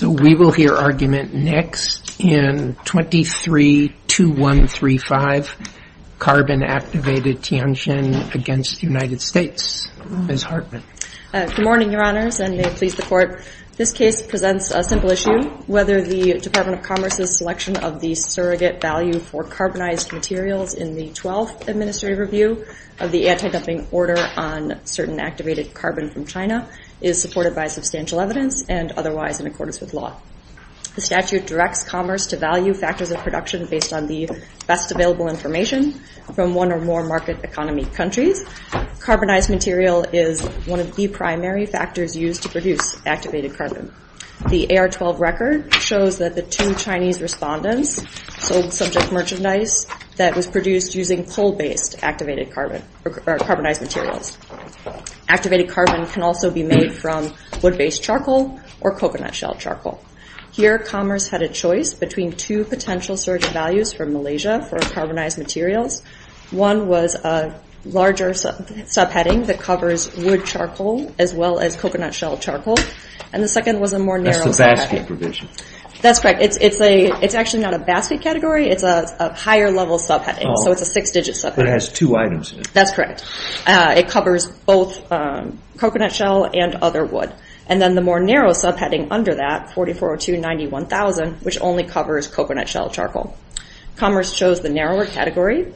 So we will hear argument next in 23-2135, Carbon Activated Tianjin against the United States. Ms. Hartman. Good morning, Your Honors, and may it please the Court. This case presents a simple issue, whether the Department of Commerce's selection of the surrogate value for carbonized materials in the 12th Administrative Review of the Anti-Dumping Order on Certain Activated Carbon from China is supported by substantial evidence and otherwise in accordance with law. The statute directs commerce to value factors of production based on the best available information from one or more market economy countries. Carbonized material is one of the primary factors used to produce activated carbon. The AR-12 record shows that the two Chinese respondents sold subject merchandise that was produced using coal-based activated carbon or carbonized materials. Activated carbon can also be made from wood-based charcoal or coconut shell charcoal. Here commerce had a choice between two potential surrogate values for Malaysia for carbonized materials. One was a larger subheading that covers wood charcoal as well as coconut shell charcoal, and the second was a more narrow subheading. That's the basket provision. That's correct. It's actually not a basket category, it's a higher level subheading, so it's a six-digit subheading. But it has two items in it. That's correct. It covers both coconut shell and other wood. And then the more narrow subheading under that, 4402.91, which only covers coconut shell charcoal. Commerce chose the narrower category.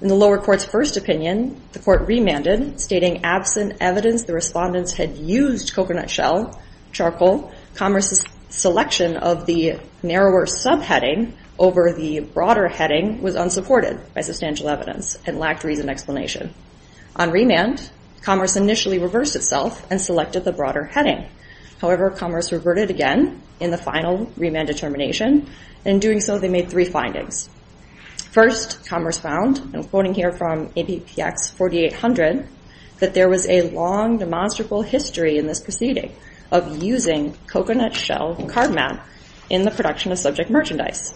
In the lower court's first opinion, the court remanded, stating absent evidence the respondents had used coconut shell charcoal, commerce's selection of the narrower subheading over the broader heading was unsupported by substantial evidence and lacked reasoned explanation. On remand, commerce initially reversed itself and selected the broader heading. However, commerce reverted again in the final remand determination, and in doing so they made three findings. First, commerce found, and I'm quoting here from ABPX 4800, that there was a long demonstrable history in this proceeding of using coconut shell cardamom in the production of subject merchandise.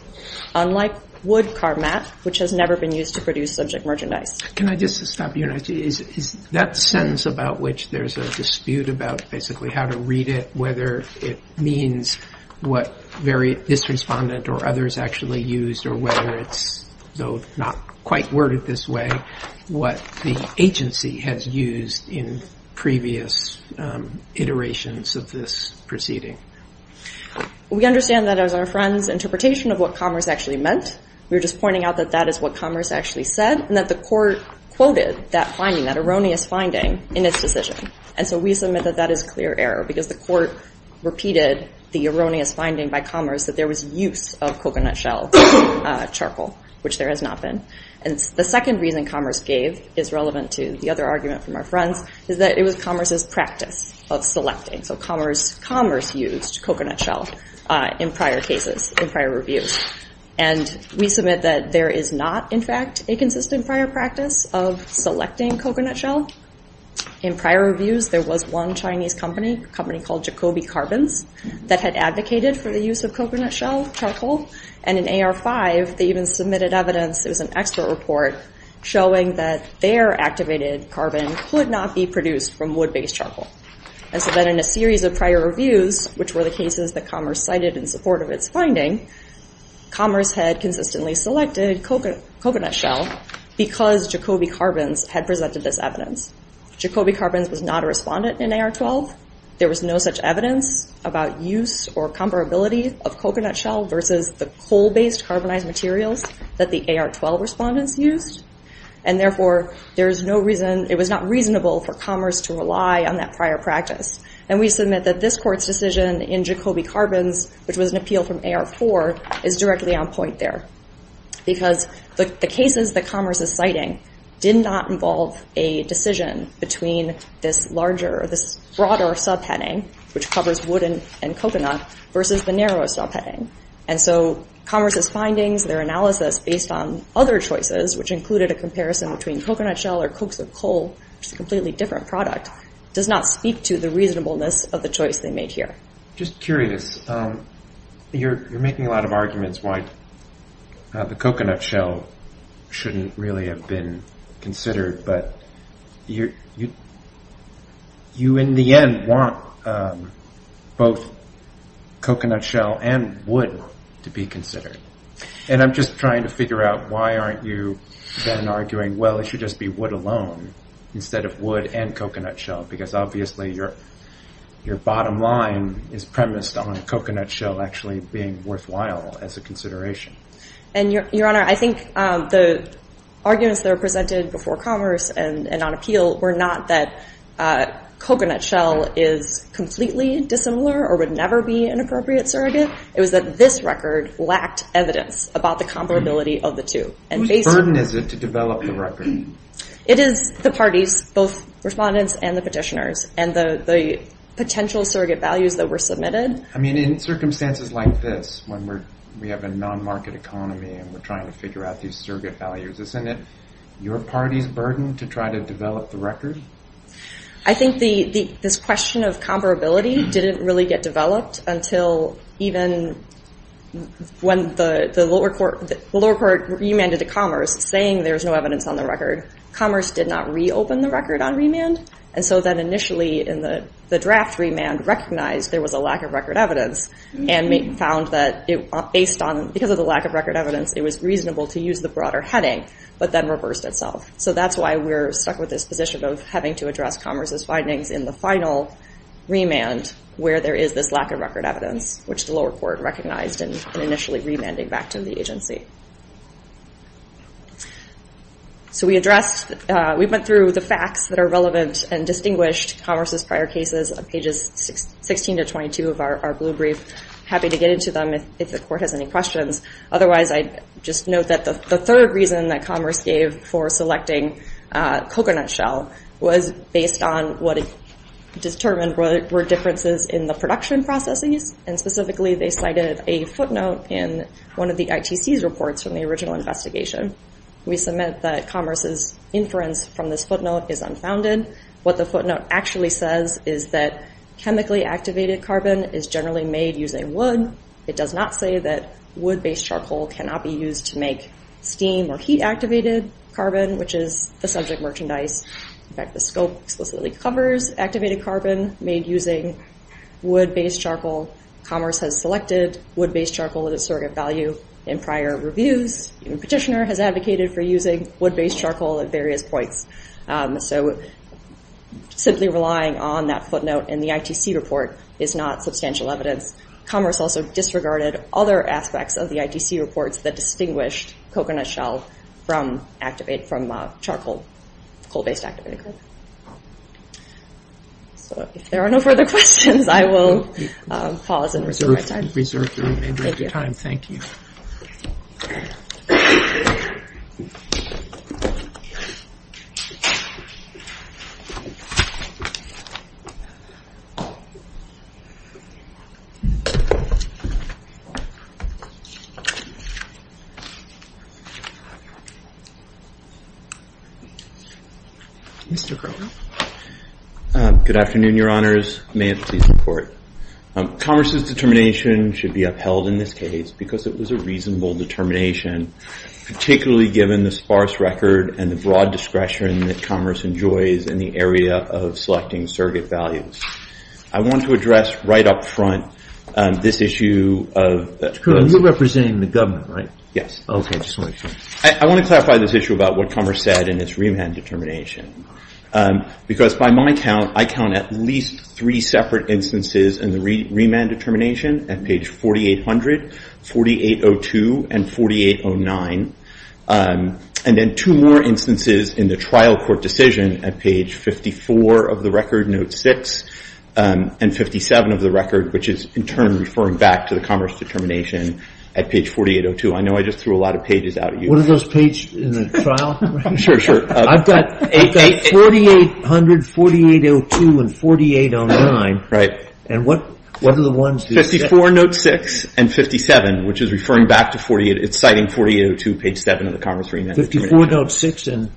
Unlike wood cardamom, which has never been used to produce subject merchandise. Can I just stop you, and I see, is that sentence about which there's a dispute about basically how to read it, whether it means what this respondent or others actually used, or whether it's, though not quite worded this way, what the agency has used in previous iterations of this proceeding? We understand that as our friend's interpretation of what commerce actually meant, we were just pointing out that that is what commerce actually said, and that the court quoted that finding, that erroneous finding, in its decision. And so we submit that that is clear error, because the court repeated the erroneous finding by commerce that there was use of coconut shell charcoal, which there has not been. And the second reason commerce gave is relevant to the other argument from our friends, is that it was commerce's practice of selecting. So commerce used coconut shell in prior cases, in prior reviews. And we submit that there is not, in fact, a consistent prior practice of selecting coconut shell. In prior reviews, there was one Chinese company, a company called Jacobi Carbons, that had advocated for the use of coconut shell charcoal, and in AR-5, they even submitted evidence, it was an expert report, showing that their activated carbon could not be produced from wood-based charcoal. And so then in a series of prior reviews, which were the cases that commerce cited in support of its finding, commerce had consistently selected coconut shell, because Jacobi Carbons had presented this evidence. Jacobi Carbons was not a respondent in AR-12, there was no such evidence about use or comparability of coconut shell versus the coal-based carbonized materials that the AR-12 respondents used, and therefore, there is no reason, it was not reasonable for commerce to rely on that prior practice. And we submit that this Court's decision in Jacobi Carbons, which was an appeal from AR-4, is directly on point there. Because the cases that commerce is citing did not involve a decision between this larger, this broader subheading, which covers wood and coconut, versus the narrower subheading. And so commerce's findings, their analysis based on other choices, which included a comparison between coconut shell or coaxial coal, which is a completely different product, does not speak to the reasonableness of the choice they made here. Just curious, you're making a lot of arguments why the coconut shell shouldn't really have been considered, but you in the end want both coconut shell and wood to be considered. And I'm just trying to figure out why aren't you then arguing, well, it should just be wood alone, instead of wood and coconut shell, because obviously your bottom line is premised on coconut shell actually being worthwhile as a consideration. And Your Honor, I think the arguments that were presented before commerce and on appeal were not that coconut shell is completely dissimilar or would never be an appropriate surrogate. It was that this record lacked evidence about the comparability of the two. Whose burden is it to develop the record? It is the parties, both respondents and the petitioners, and the potential surrogate values that were submitted. I mean, in circumstances like this, when we have a non-market economy and we're trying to figure out these surrogate values, isn't it your party's burden to try to develop the I think this question of comparability didn't really get developed until even when the lower court remanded to commerce, saying there was no evidence on the record. Commerce did not reopen the record on remand, and so then initially in the draft remand recognized there was a lack of record evidence and found that based on, because of the lack of record evidence, it was reasonable to use the broader heading, but then reversed itself. So that's why we're stuck with this position of having to address commerce's findings in the final remand where there is this lack of record evidence, which the lower court recognized in initially remanding back to the agency. So we addressed, we went through the facts that are relevant and distinguished commerce's prior cases on pages 16 to 22 of our blue brief. I'm happy to get into them if the court has any questions. Otherwise, I'd just note that the third reason that commerce gave for selecting coconut shell was based on what it determined were differences in the production processes, and specifically they cited a footnote in one of the ITC's reports from the original investigation. We submit that commerce's inference from this footnote is unfounded. What the footnote actually says is that chemically activated carbon is generally made using wood. It does not say that wood-based charcoal cannot be used to make steam or heat-activated carbon, which is the subject merchandise. In fact, the scope explicitly covers activated carbon made using wood-based charcoal. Commerce has selected wood-based charcoal at a surrogate value in prior reviews. Even Petitioner has advocated for using wood-based charcoal at various points. Simply relying on that footnote in the ITC report is not substantial evidence. Commerce also disregarded other aspects of the ITC reports that distinguished coconut shell from charcoal-based activated carbon. If there are no further questions, I will pause and reserve my time. Reserve your time. Thank you. Mr. Crowley. Good afternoon, Your Honors. May it please the Court. Commerce's determination should be upheld in this case because it was a reasonable determination, particularly given the sparse record and the broad discretion that Commerce enjoys in the area of selecting surrogate values. I want to address right up front this issue of- Mr. Crowley, you're representing the government, right? Yes. Okay, just one second. I want to clarify this issue about what Commerce said in its remand determination. Because by my count, I count at least three separate instances in the remand determination at page 4800, 4802, and 4809. And then two more instances in the trial court decision at page 54 of the record, note 6, and 57 of the record, which is in turn referring back to the Commerce determination at page 4802. I know I just threw a lot of pages out at you. What are those pages in the trial? Sure, sure. I've got 4800, 4802, and 4809. Right. And what are the ones- 54, note 6, and 57, which is referring back to 48- it's citing 4802, page 7 of the Commerce remand determination. 54, note 6, and-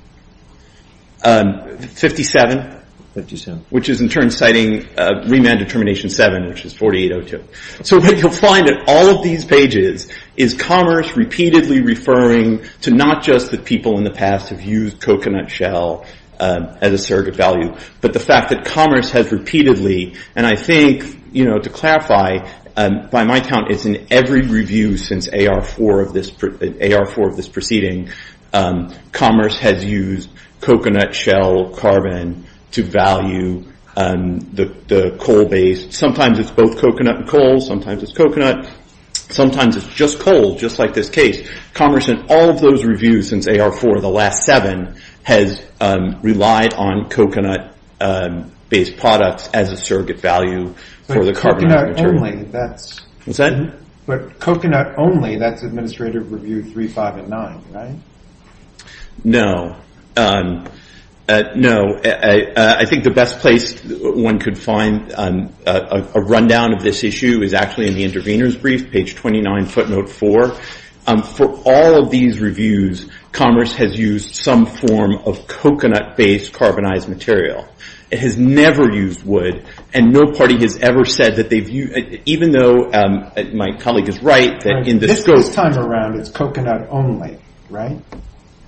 57. 57. Which is in turn citing remand determination 7, which is 4802. So what you'll find in all of these pages is Commerce repeatedly referring to not just that people in the past have used coconut shell as a surrogate value, but the fact that Commerce has repeatedly, and I think to clarify, by my count it's in every review since AR4 of this proceeding, Commerce has used coconut shell carbon to value the coal-based- sometimes it's both coconut and coal, sometimes it's coconut, sometimes it's just coal, just like this case. Commerce in all of those reviews since AR4, the last seven, has relied on coconut-based products as a surrogate value for the carbon- But coconut only, that's- What's that? But coconut only, that's Administrative Review 3, 5, and 9, right? No. No. I think the best place one could find a rundown of this issue is actually in the intervener's brief, page 29, footnote 4. For all of these reviews, Commerce has used some form of coconut-based carbonized material. It has never used wood, and no party has ever said that they've used- even though my colleague is right, that in the scope- This time around it's coconut only, right?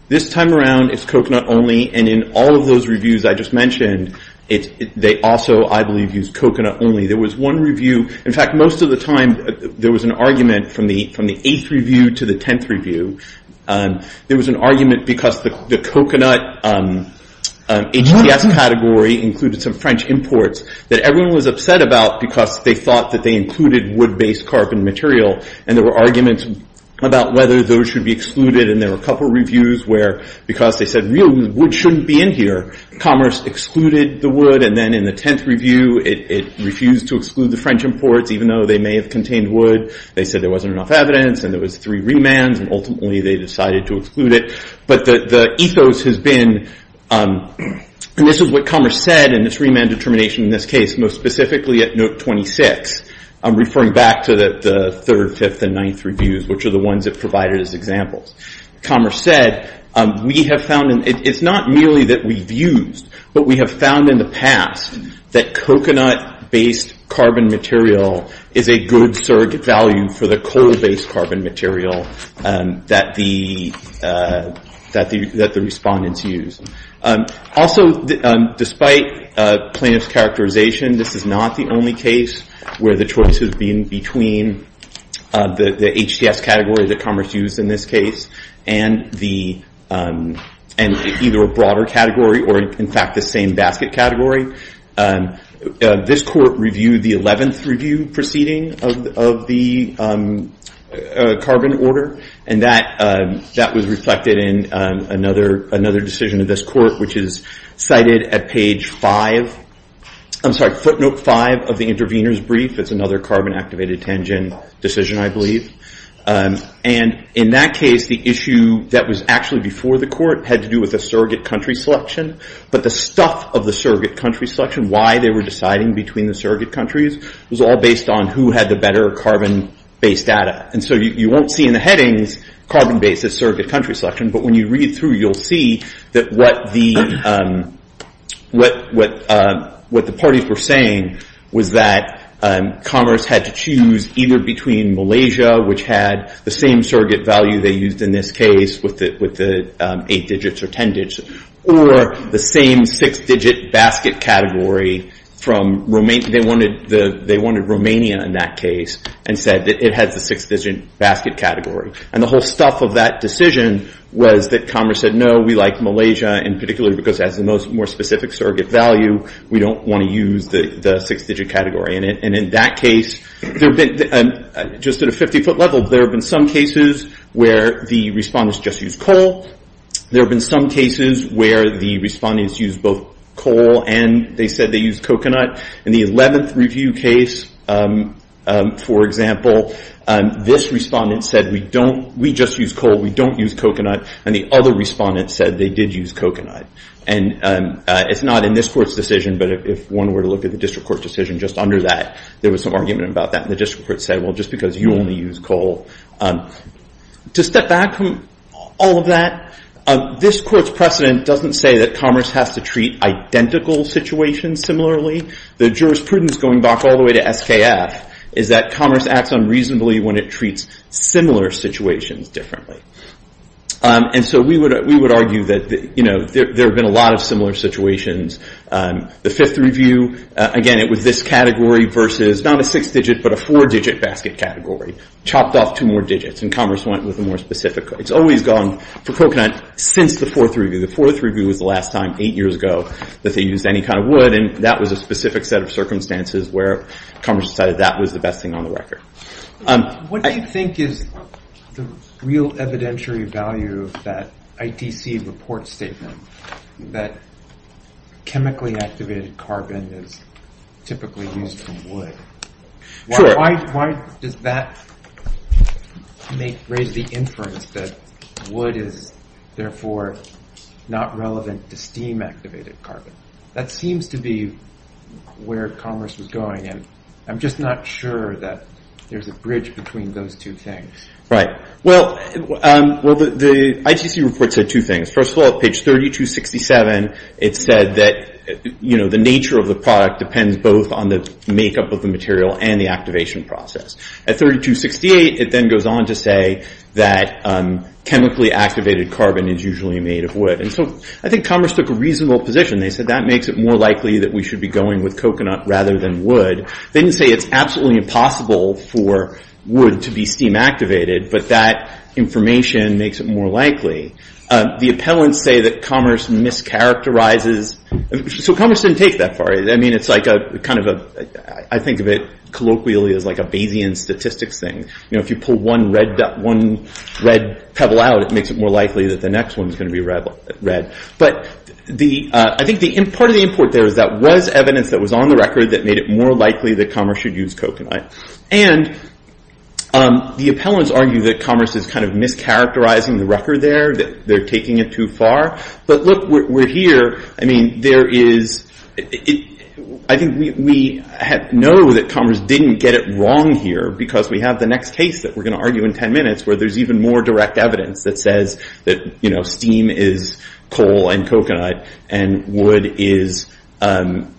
This time around it's coconut only, and in all of those reviews I just mentioned, they also, I believe, use coconut only. There was one review- In fact, most of the time there was an argument from the 8th review to the 10th review. There was an argument because the coconut HTS category included some French imports that everyone was upset about because they thought that they included wood-based carbon material, and there were arguments about whether those should be excluded, and there were a couple reviews where, because they said, really, wood shouldn't be in here, Commerce excluded the wood, and then in the 10th review it refused to exclude the French imports, even though they may have contained wood. They said there wasn't enough evidence, and there was three remands, and ultimately they decided to exclude it. But the ethos has been- And this is what Commerce said in this remand determination in this case, most specifically at note 26, referring back to the 3rd, 5th, and 9th reviews, which are the ones that provided as examples. Commerce said, we have found- It's not merely that we've used, but we have found in the past that coconut-based carbon material is a good surrogate value for the coal-based carbon material that the respondents use. Also, despite plaintiff's characterization, this is not the only case where the choice has been between the HCS category that Commerce used in this case, and either a broader category, or in fact, the same basket category. This court reviewed the 11th review proceeding of the carbon order, and that was reflected in another decision of this court, which is cited at page 5- footnote 5 of the intervener's brief. It's another carbon-activated tangent decision, I believe. And in that case, the issue that was actually before the court had to do with the surrogate country selection, but the stuff of the surrogate country selection, why they were deciding between the surrogate countries, was all based on who had the better carbon-based data. And so you won't see in the headings, carbon-based surrogate country selection, but when you read through, you'll see that what the parties were saying was that Commerce had to choose either between Malaysia, which had the same surrogate value they used in this case with the 8 digits or 10 digits, or the same 6-digit basket category. They wanted Romania in that case, and said that it had the 6-digit basket category. And the whole stuff of that decision was that Commerce said, no, we like Malaysia in particular, because it has the most specific surrogate value. We don't want to use the 6-digit category. And in that case, just at a 50-foot level, there have been some cases where the respondents just used coal. There have been some cases where the respondents used both coal and they said they used coconut. In the 11th review case, for example, this respondent said, we just use coal, we don't use coconut. And the other respondent said they did use coconut. And it's not in this court's decision, but if one were to look at the district court decision just under that, there was some argument about that. And the district court said, well, just because you only use coal. To step back from all of that, this court's precedent doesn't say that Commerce has to treat identical situations similarly. The jurisprudence going back all the way to SKF is that Commerce acts unreasonably when it treats similar situations differently. And so we would argue that there have been a lot of similar situations. The 5th review, again, it was this category versus not a 6-digit but a 4-digit basket category. Chopped off two more digits and Commerce went with a more specific. It's always gone for coconut since the 4th review. The 4th review was the last time, eight years ago, that they used any kind of wood. And that was a specific set of circumstances where Commerce decided that was the best thing on the record. What do you think is the real evidentiary value of that ITC report statement that chemically activated carbon is typically used for wood? Why does that raise the inference that wood is, therefore, not relevant to steam-activated carbon? That seems to be where Commerce was going. And I'm just not sure that there's a bridge between those two things. Well, the ITC report said two things. First of all, page 3267, it said that the nature of the product depends both on the makeup of the material and the activation process. At 3268, it then goes on to say that chemically activated carbon is usually made of wood. And so I think Commerce took a reasonable position. They said that makes it more likely that we should be going with coconut rather than wood. They didn't say it's absolutely impossible for wood to be steam-activated, but that information makes it more likely. The appellants say that Commerce mischaracterizes. So Commerce didn't take that far. I think of it colloquially as like a Bayesian statistics thing. If you pull one red pebble out, it makes it more likely that the next one is going to be red. But I think part of the import there is that was evidence that was on the record that made it more likely that Commerce should use coconut. And the appellants argue that Commerce is kind of mischaracterizing the record there, that they're taking it too far. But look, we're here. I mean, I think we know that Commerce didn't get it wrong here because we have the next case that we're going to argue in 10 minutes where there's even more direct evidence that says that steam is coal and coconut and wood is chemical.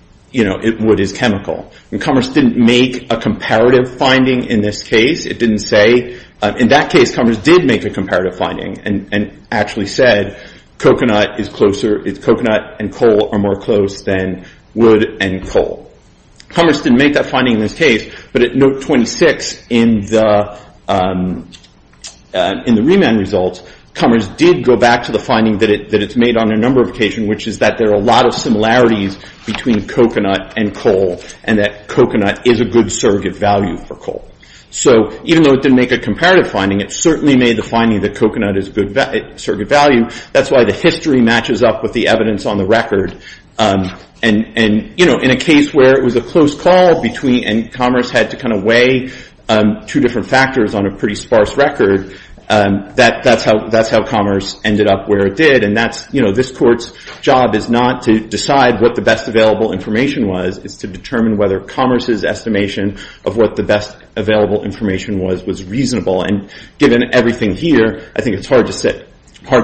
Commerce didn't make a comparative finding in this case. In that case, Commerce did make a comparative finding and actually said coconut and coal are more close than wood and coal. Commerce didn't make that finding in this case, but at note 26 in the remand results, Commerce did go back to the finding that it's made on a number of occasions, which is that there are a lot of similarities between coconut and coal and that coconut is a good surrogate value for coal. So even though it didn't make a comparative finding, it certainly made the finding that coconut is a good surrogate value. That's why the history matches up with the evidence on the record. And in a case where it was a close call and Commerce had to kind of weigh two different factors on a pretty sparse record, that's how Commerce ended up where it did. And this court's job is not to decide what the best available information was. It's to determine whether Commerce's estimation of what the best available information was was reasonable. And given everything here, I think it's hard to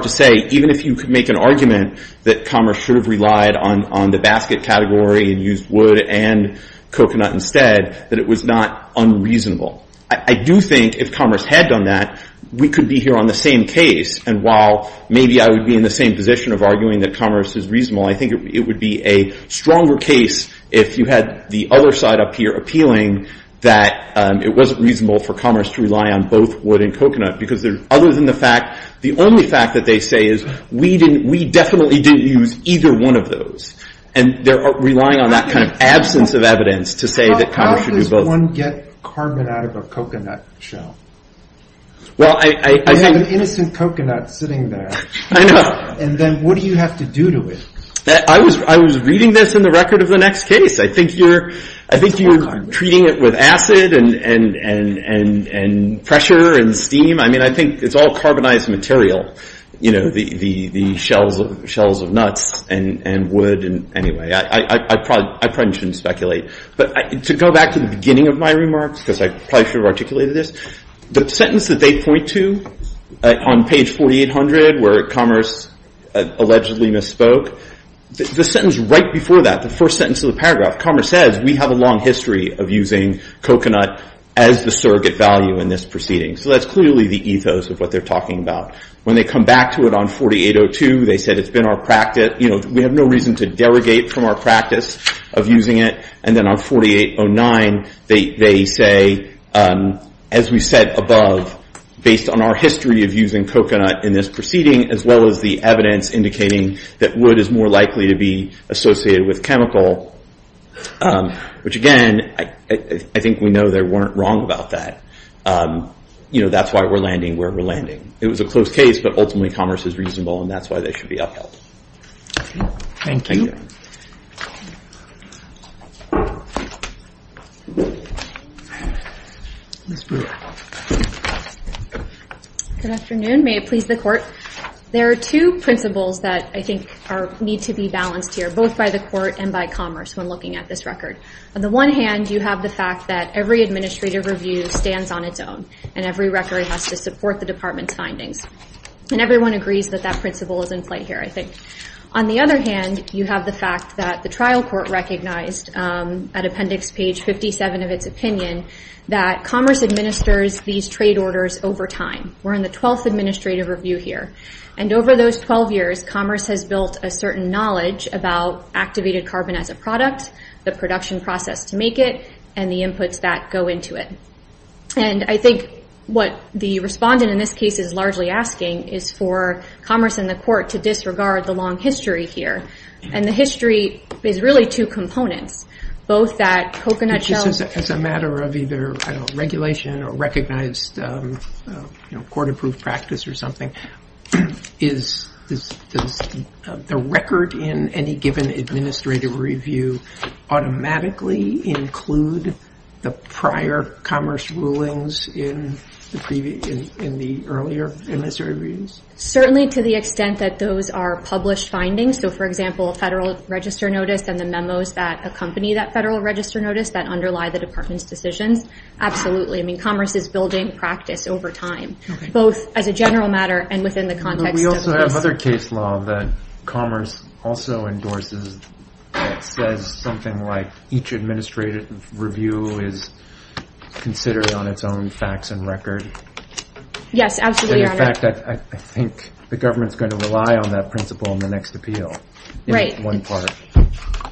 say, even if you could make an argument that Commerce should have relied on the basket category and used wood and coconut instead, that it was not unreasonable. I do think if Commerce had done that, we could be here on the same case. And while maybe I would be in the same position of arguing that Commerce is reasonable, I think it would be a stronger case if you had the other side up here appealing that it wasn't reasonable for Commerce to rely on both wood and coconut. Because other than the fact, the only fact that they say is we definitely didn't use either one of those. And they're relying on that kind of absence of evidence to say that Commerce should do both. How does one get carbon out of a coconut shell? Well, I think... You have an innocent coconut sitting there. I know. And then what do you have to do to it? I was reading this in the record of the next case. I think you're treating it with acid and pressure and steam. I mean, I think it's all carbonized material, you know, the shells of nuts and wood. Anyway, I probably shouldn't speculate. But to go back to the beginning of my remarks, because I probably should have articulated this, the sentence that they point to on page 4800 where Commerce allegedly misspoke, the sentence right before that, the first sentence of the paragraph, Commerce says we have a long history of using coconut as the surrogate value in this proceeding. So that's clearly the ethos of what they're talking about. When they come back to it on 4802, they said it's been our practice. We have no reason to derogate from our practice of using it. And then on 4809, they say, as we said above, based on our history of using coconut in this proceeding, as well as the evidence indicating that wood is more likely to be associated with chemical, which, again, I think we know they weren't wrong about that. You know, that's why we're landing where we're landing. It was a close case, but ultimately Commerce is reasonable, and that's why they should be upheld. Thank you. Good afternoon. May it please the Court. There are two principles that I think need to be balanced here, both by the Court and by Commerce, when looking at this record. On the one hand, you have the fact that every administrative review stands on its own, and every record has to support the Department's findings. And everyone agrees that that principle is in play here, I think. On the other hand, you have the fact that the trial court recognized at appendix page 57 of its opinion that Commerce administers these trade orders over time. We're in the 12th administrative review here. And over those 12 years, Commerce has built a certain knowledge about activated carbon as a product, the production process to make it, and the inputs that go into it. And I think what the respondent in this case is largely asking is for Commerce and the Court to disregard the long history here. And the history is really two components. Both that coconut shell... As a matter of either regulation or recognized, you know, court-approved practice or something, does the record in any given administrative review automatically include the prior Commerce rulings in the earlier administrative reviews? Certainly to the extent that those are published findings. So, for example, a Federal Register Notice and the memos that accompany that Federal Register Notice that underlie the Department's decisions, absolutely. I mean, Commerce is building practice over time. Both as a general matter and within the context of this. We also have other case law that Commerce also endorses that says something like each administrative review is considered on its own facts and record. Yes, absolutely, Your Honor. In fact, I think the government's going to rely on that principle in the next appeal. Right. In one part.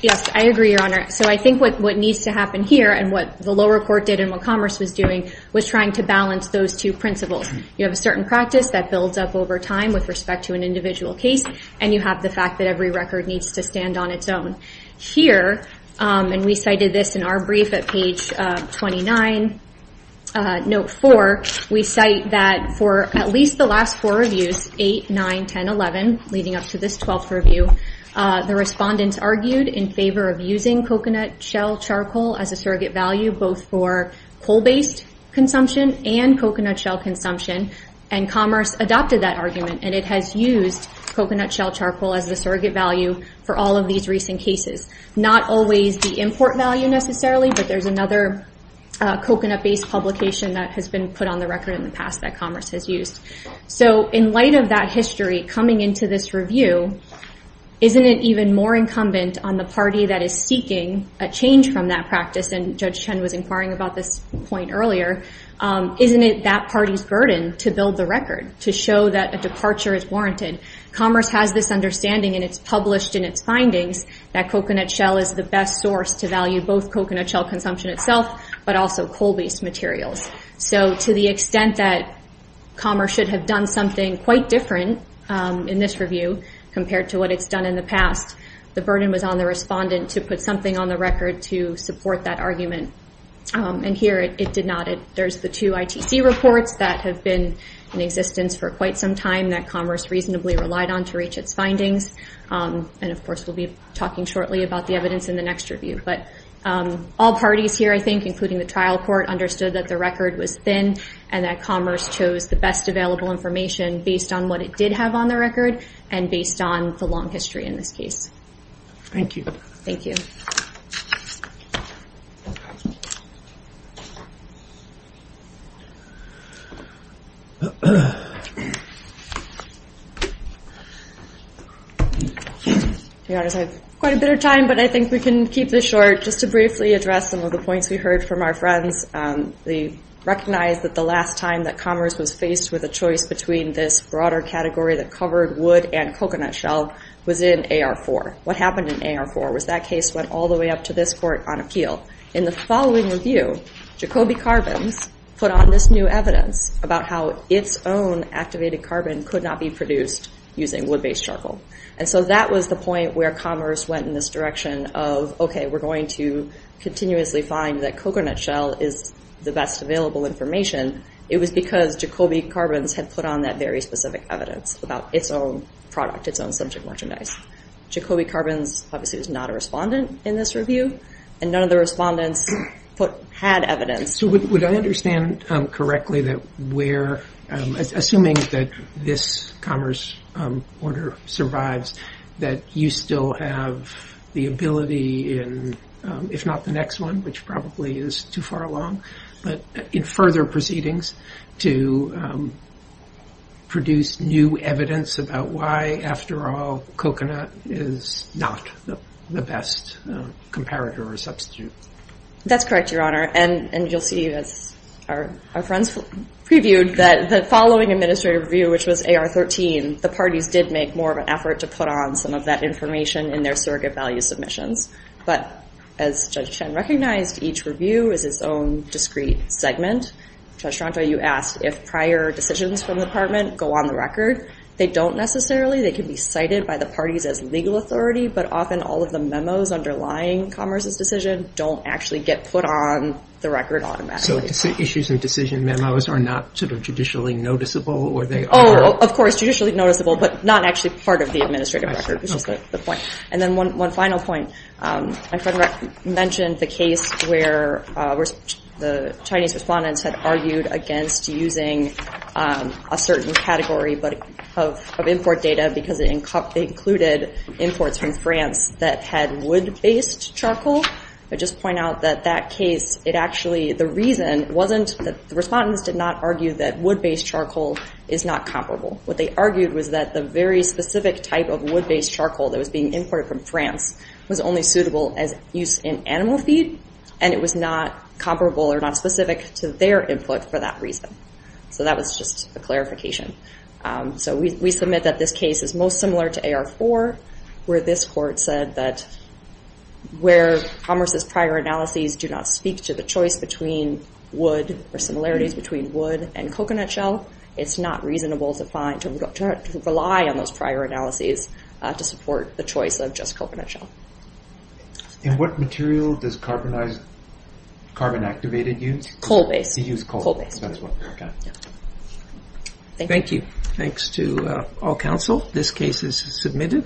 Yes, I agree, Your Honor. So I think what needs to happen here and what the lower court did and what Commerce was doing was trying to balance those two principles. You have a certain practice that builds up over time with respect to an individual case and you have the fact that every record needs to stand on its own. Here, and we cited this in our brief at page 29, note 4, we cite that for at least the last four reviews, 8, 9, 10, 11, leading up to this 12th review, the respondents argued in favor of using coconut shell charcoal as a surrogate value both for coal-based consumption and coconut shell consumption, and Commerce adopted that argument and it has used coconut shell charcoal as the surrogate value for all of these recent cases. Not always the import value necessarily, but there's another coconut-based publication that has been put on the record in the past that Commerce has used. So in light of that history coming into this review, isn't it even more incumbent on the party that is seeking a change from that practice, and Judge Chen was inquiring about this point earlier, isn't it that party's burden to build the record to show that a departure is warranted? Commerce has this understanding and it's published in its findings that coconut shell is the best source to value both coconut shell consumption itself but also coal-based materials. So to the extent that Commerce should have done something quite different in this review compared to what it's done in the past, the burden was on the respondent to put something on the record to support that argument. And here it did not. There's the two ITC reports that have been in existence for quite some time that Commerce reasonably relied on to reach its findings, and of course we'll be talking shortly about the evidence in the next review. But all parties here, I think, including the trial court, understood that the record was thin and that Commerce chose the best available information based on what it did have on the record and based on the long history in this case. Thank you. Thank you. To be honest, I have quite a bit of time, but I think we can keep this short. Just to briefly address some of the points we heard from our friends, they recognized that the last time that Commerce was faced with a choice between this broader category that covered wood and coconut shell was in AR4. What happened in AR4 was that case went all the way up to this court on appeal. In the following review, Jacoby Carbons put on this new evidence about how its own activated carbon could not be produced using wood-based charcoal. And so that was the point where Commerce went in this direction of, okay, we're going to continuously find that coconut shell is the best available information. It was because Jacoby Carbons had put on that very specific evidence about its own product, its own subject merchandise. Jacoby Carbons obviously was not a respondent in this review, and none of the respondents had evidence. So would I understand correctly that we're assuming that this Commerce order survives, that you still have the ability in, if not the next one, which probably is too far along, but in further proceedings to produce new evidence about why, after all, coconut is not the best comparator or substitute? That's correct, Your Honor. And you'll see as our friends previewed that the following administrative review, which was AR13, the parties did make more of an effort to put on some of that information in their surrogate value submissions. But as Judge Chen recognized, each review is its own discrete segment. Judge Stronto, you asked if prior decisions from the Department go on the record. They don't necessarily. They can be cited by the parties as legal authority, but often all of the memos underlying Commerce's decision don't actually get put on the record automatically. So issues and decision memos are not sort of judicially noticeable, or they are? Oh, of course, judicially noticeable, but not actually part of the administrative record, which is the point. And then one final point. My friend mentioned the case where the Chinese respondents had argued against using a certain category of import data because they included imports from France that had wood-based charcoal. I'd just point out that that case, it actually, the reason wasn't that the respondents did not argue that wood-based charcoal is not comparable. What they argued was that the very specific type of wood-based charcoal that was being imported from France was only suitable as used in animal feed, and it was not comparable or not specific to their input for that reason. So that was just a clarification. So we submit that this case is most similar to AR4, where this court said that where Commerce's prior analyses do not speak to the choice between wood, or similarities between wood and coconut shell, it's not reasonable to rely on those prior analyses to support the choice of just coconut shell. And what material does Carbon Activated use? Coal-based. They use coal. Thank you. Thanks to all counsel. This case is submitted.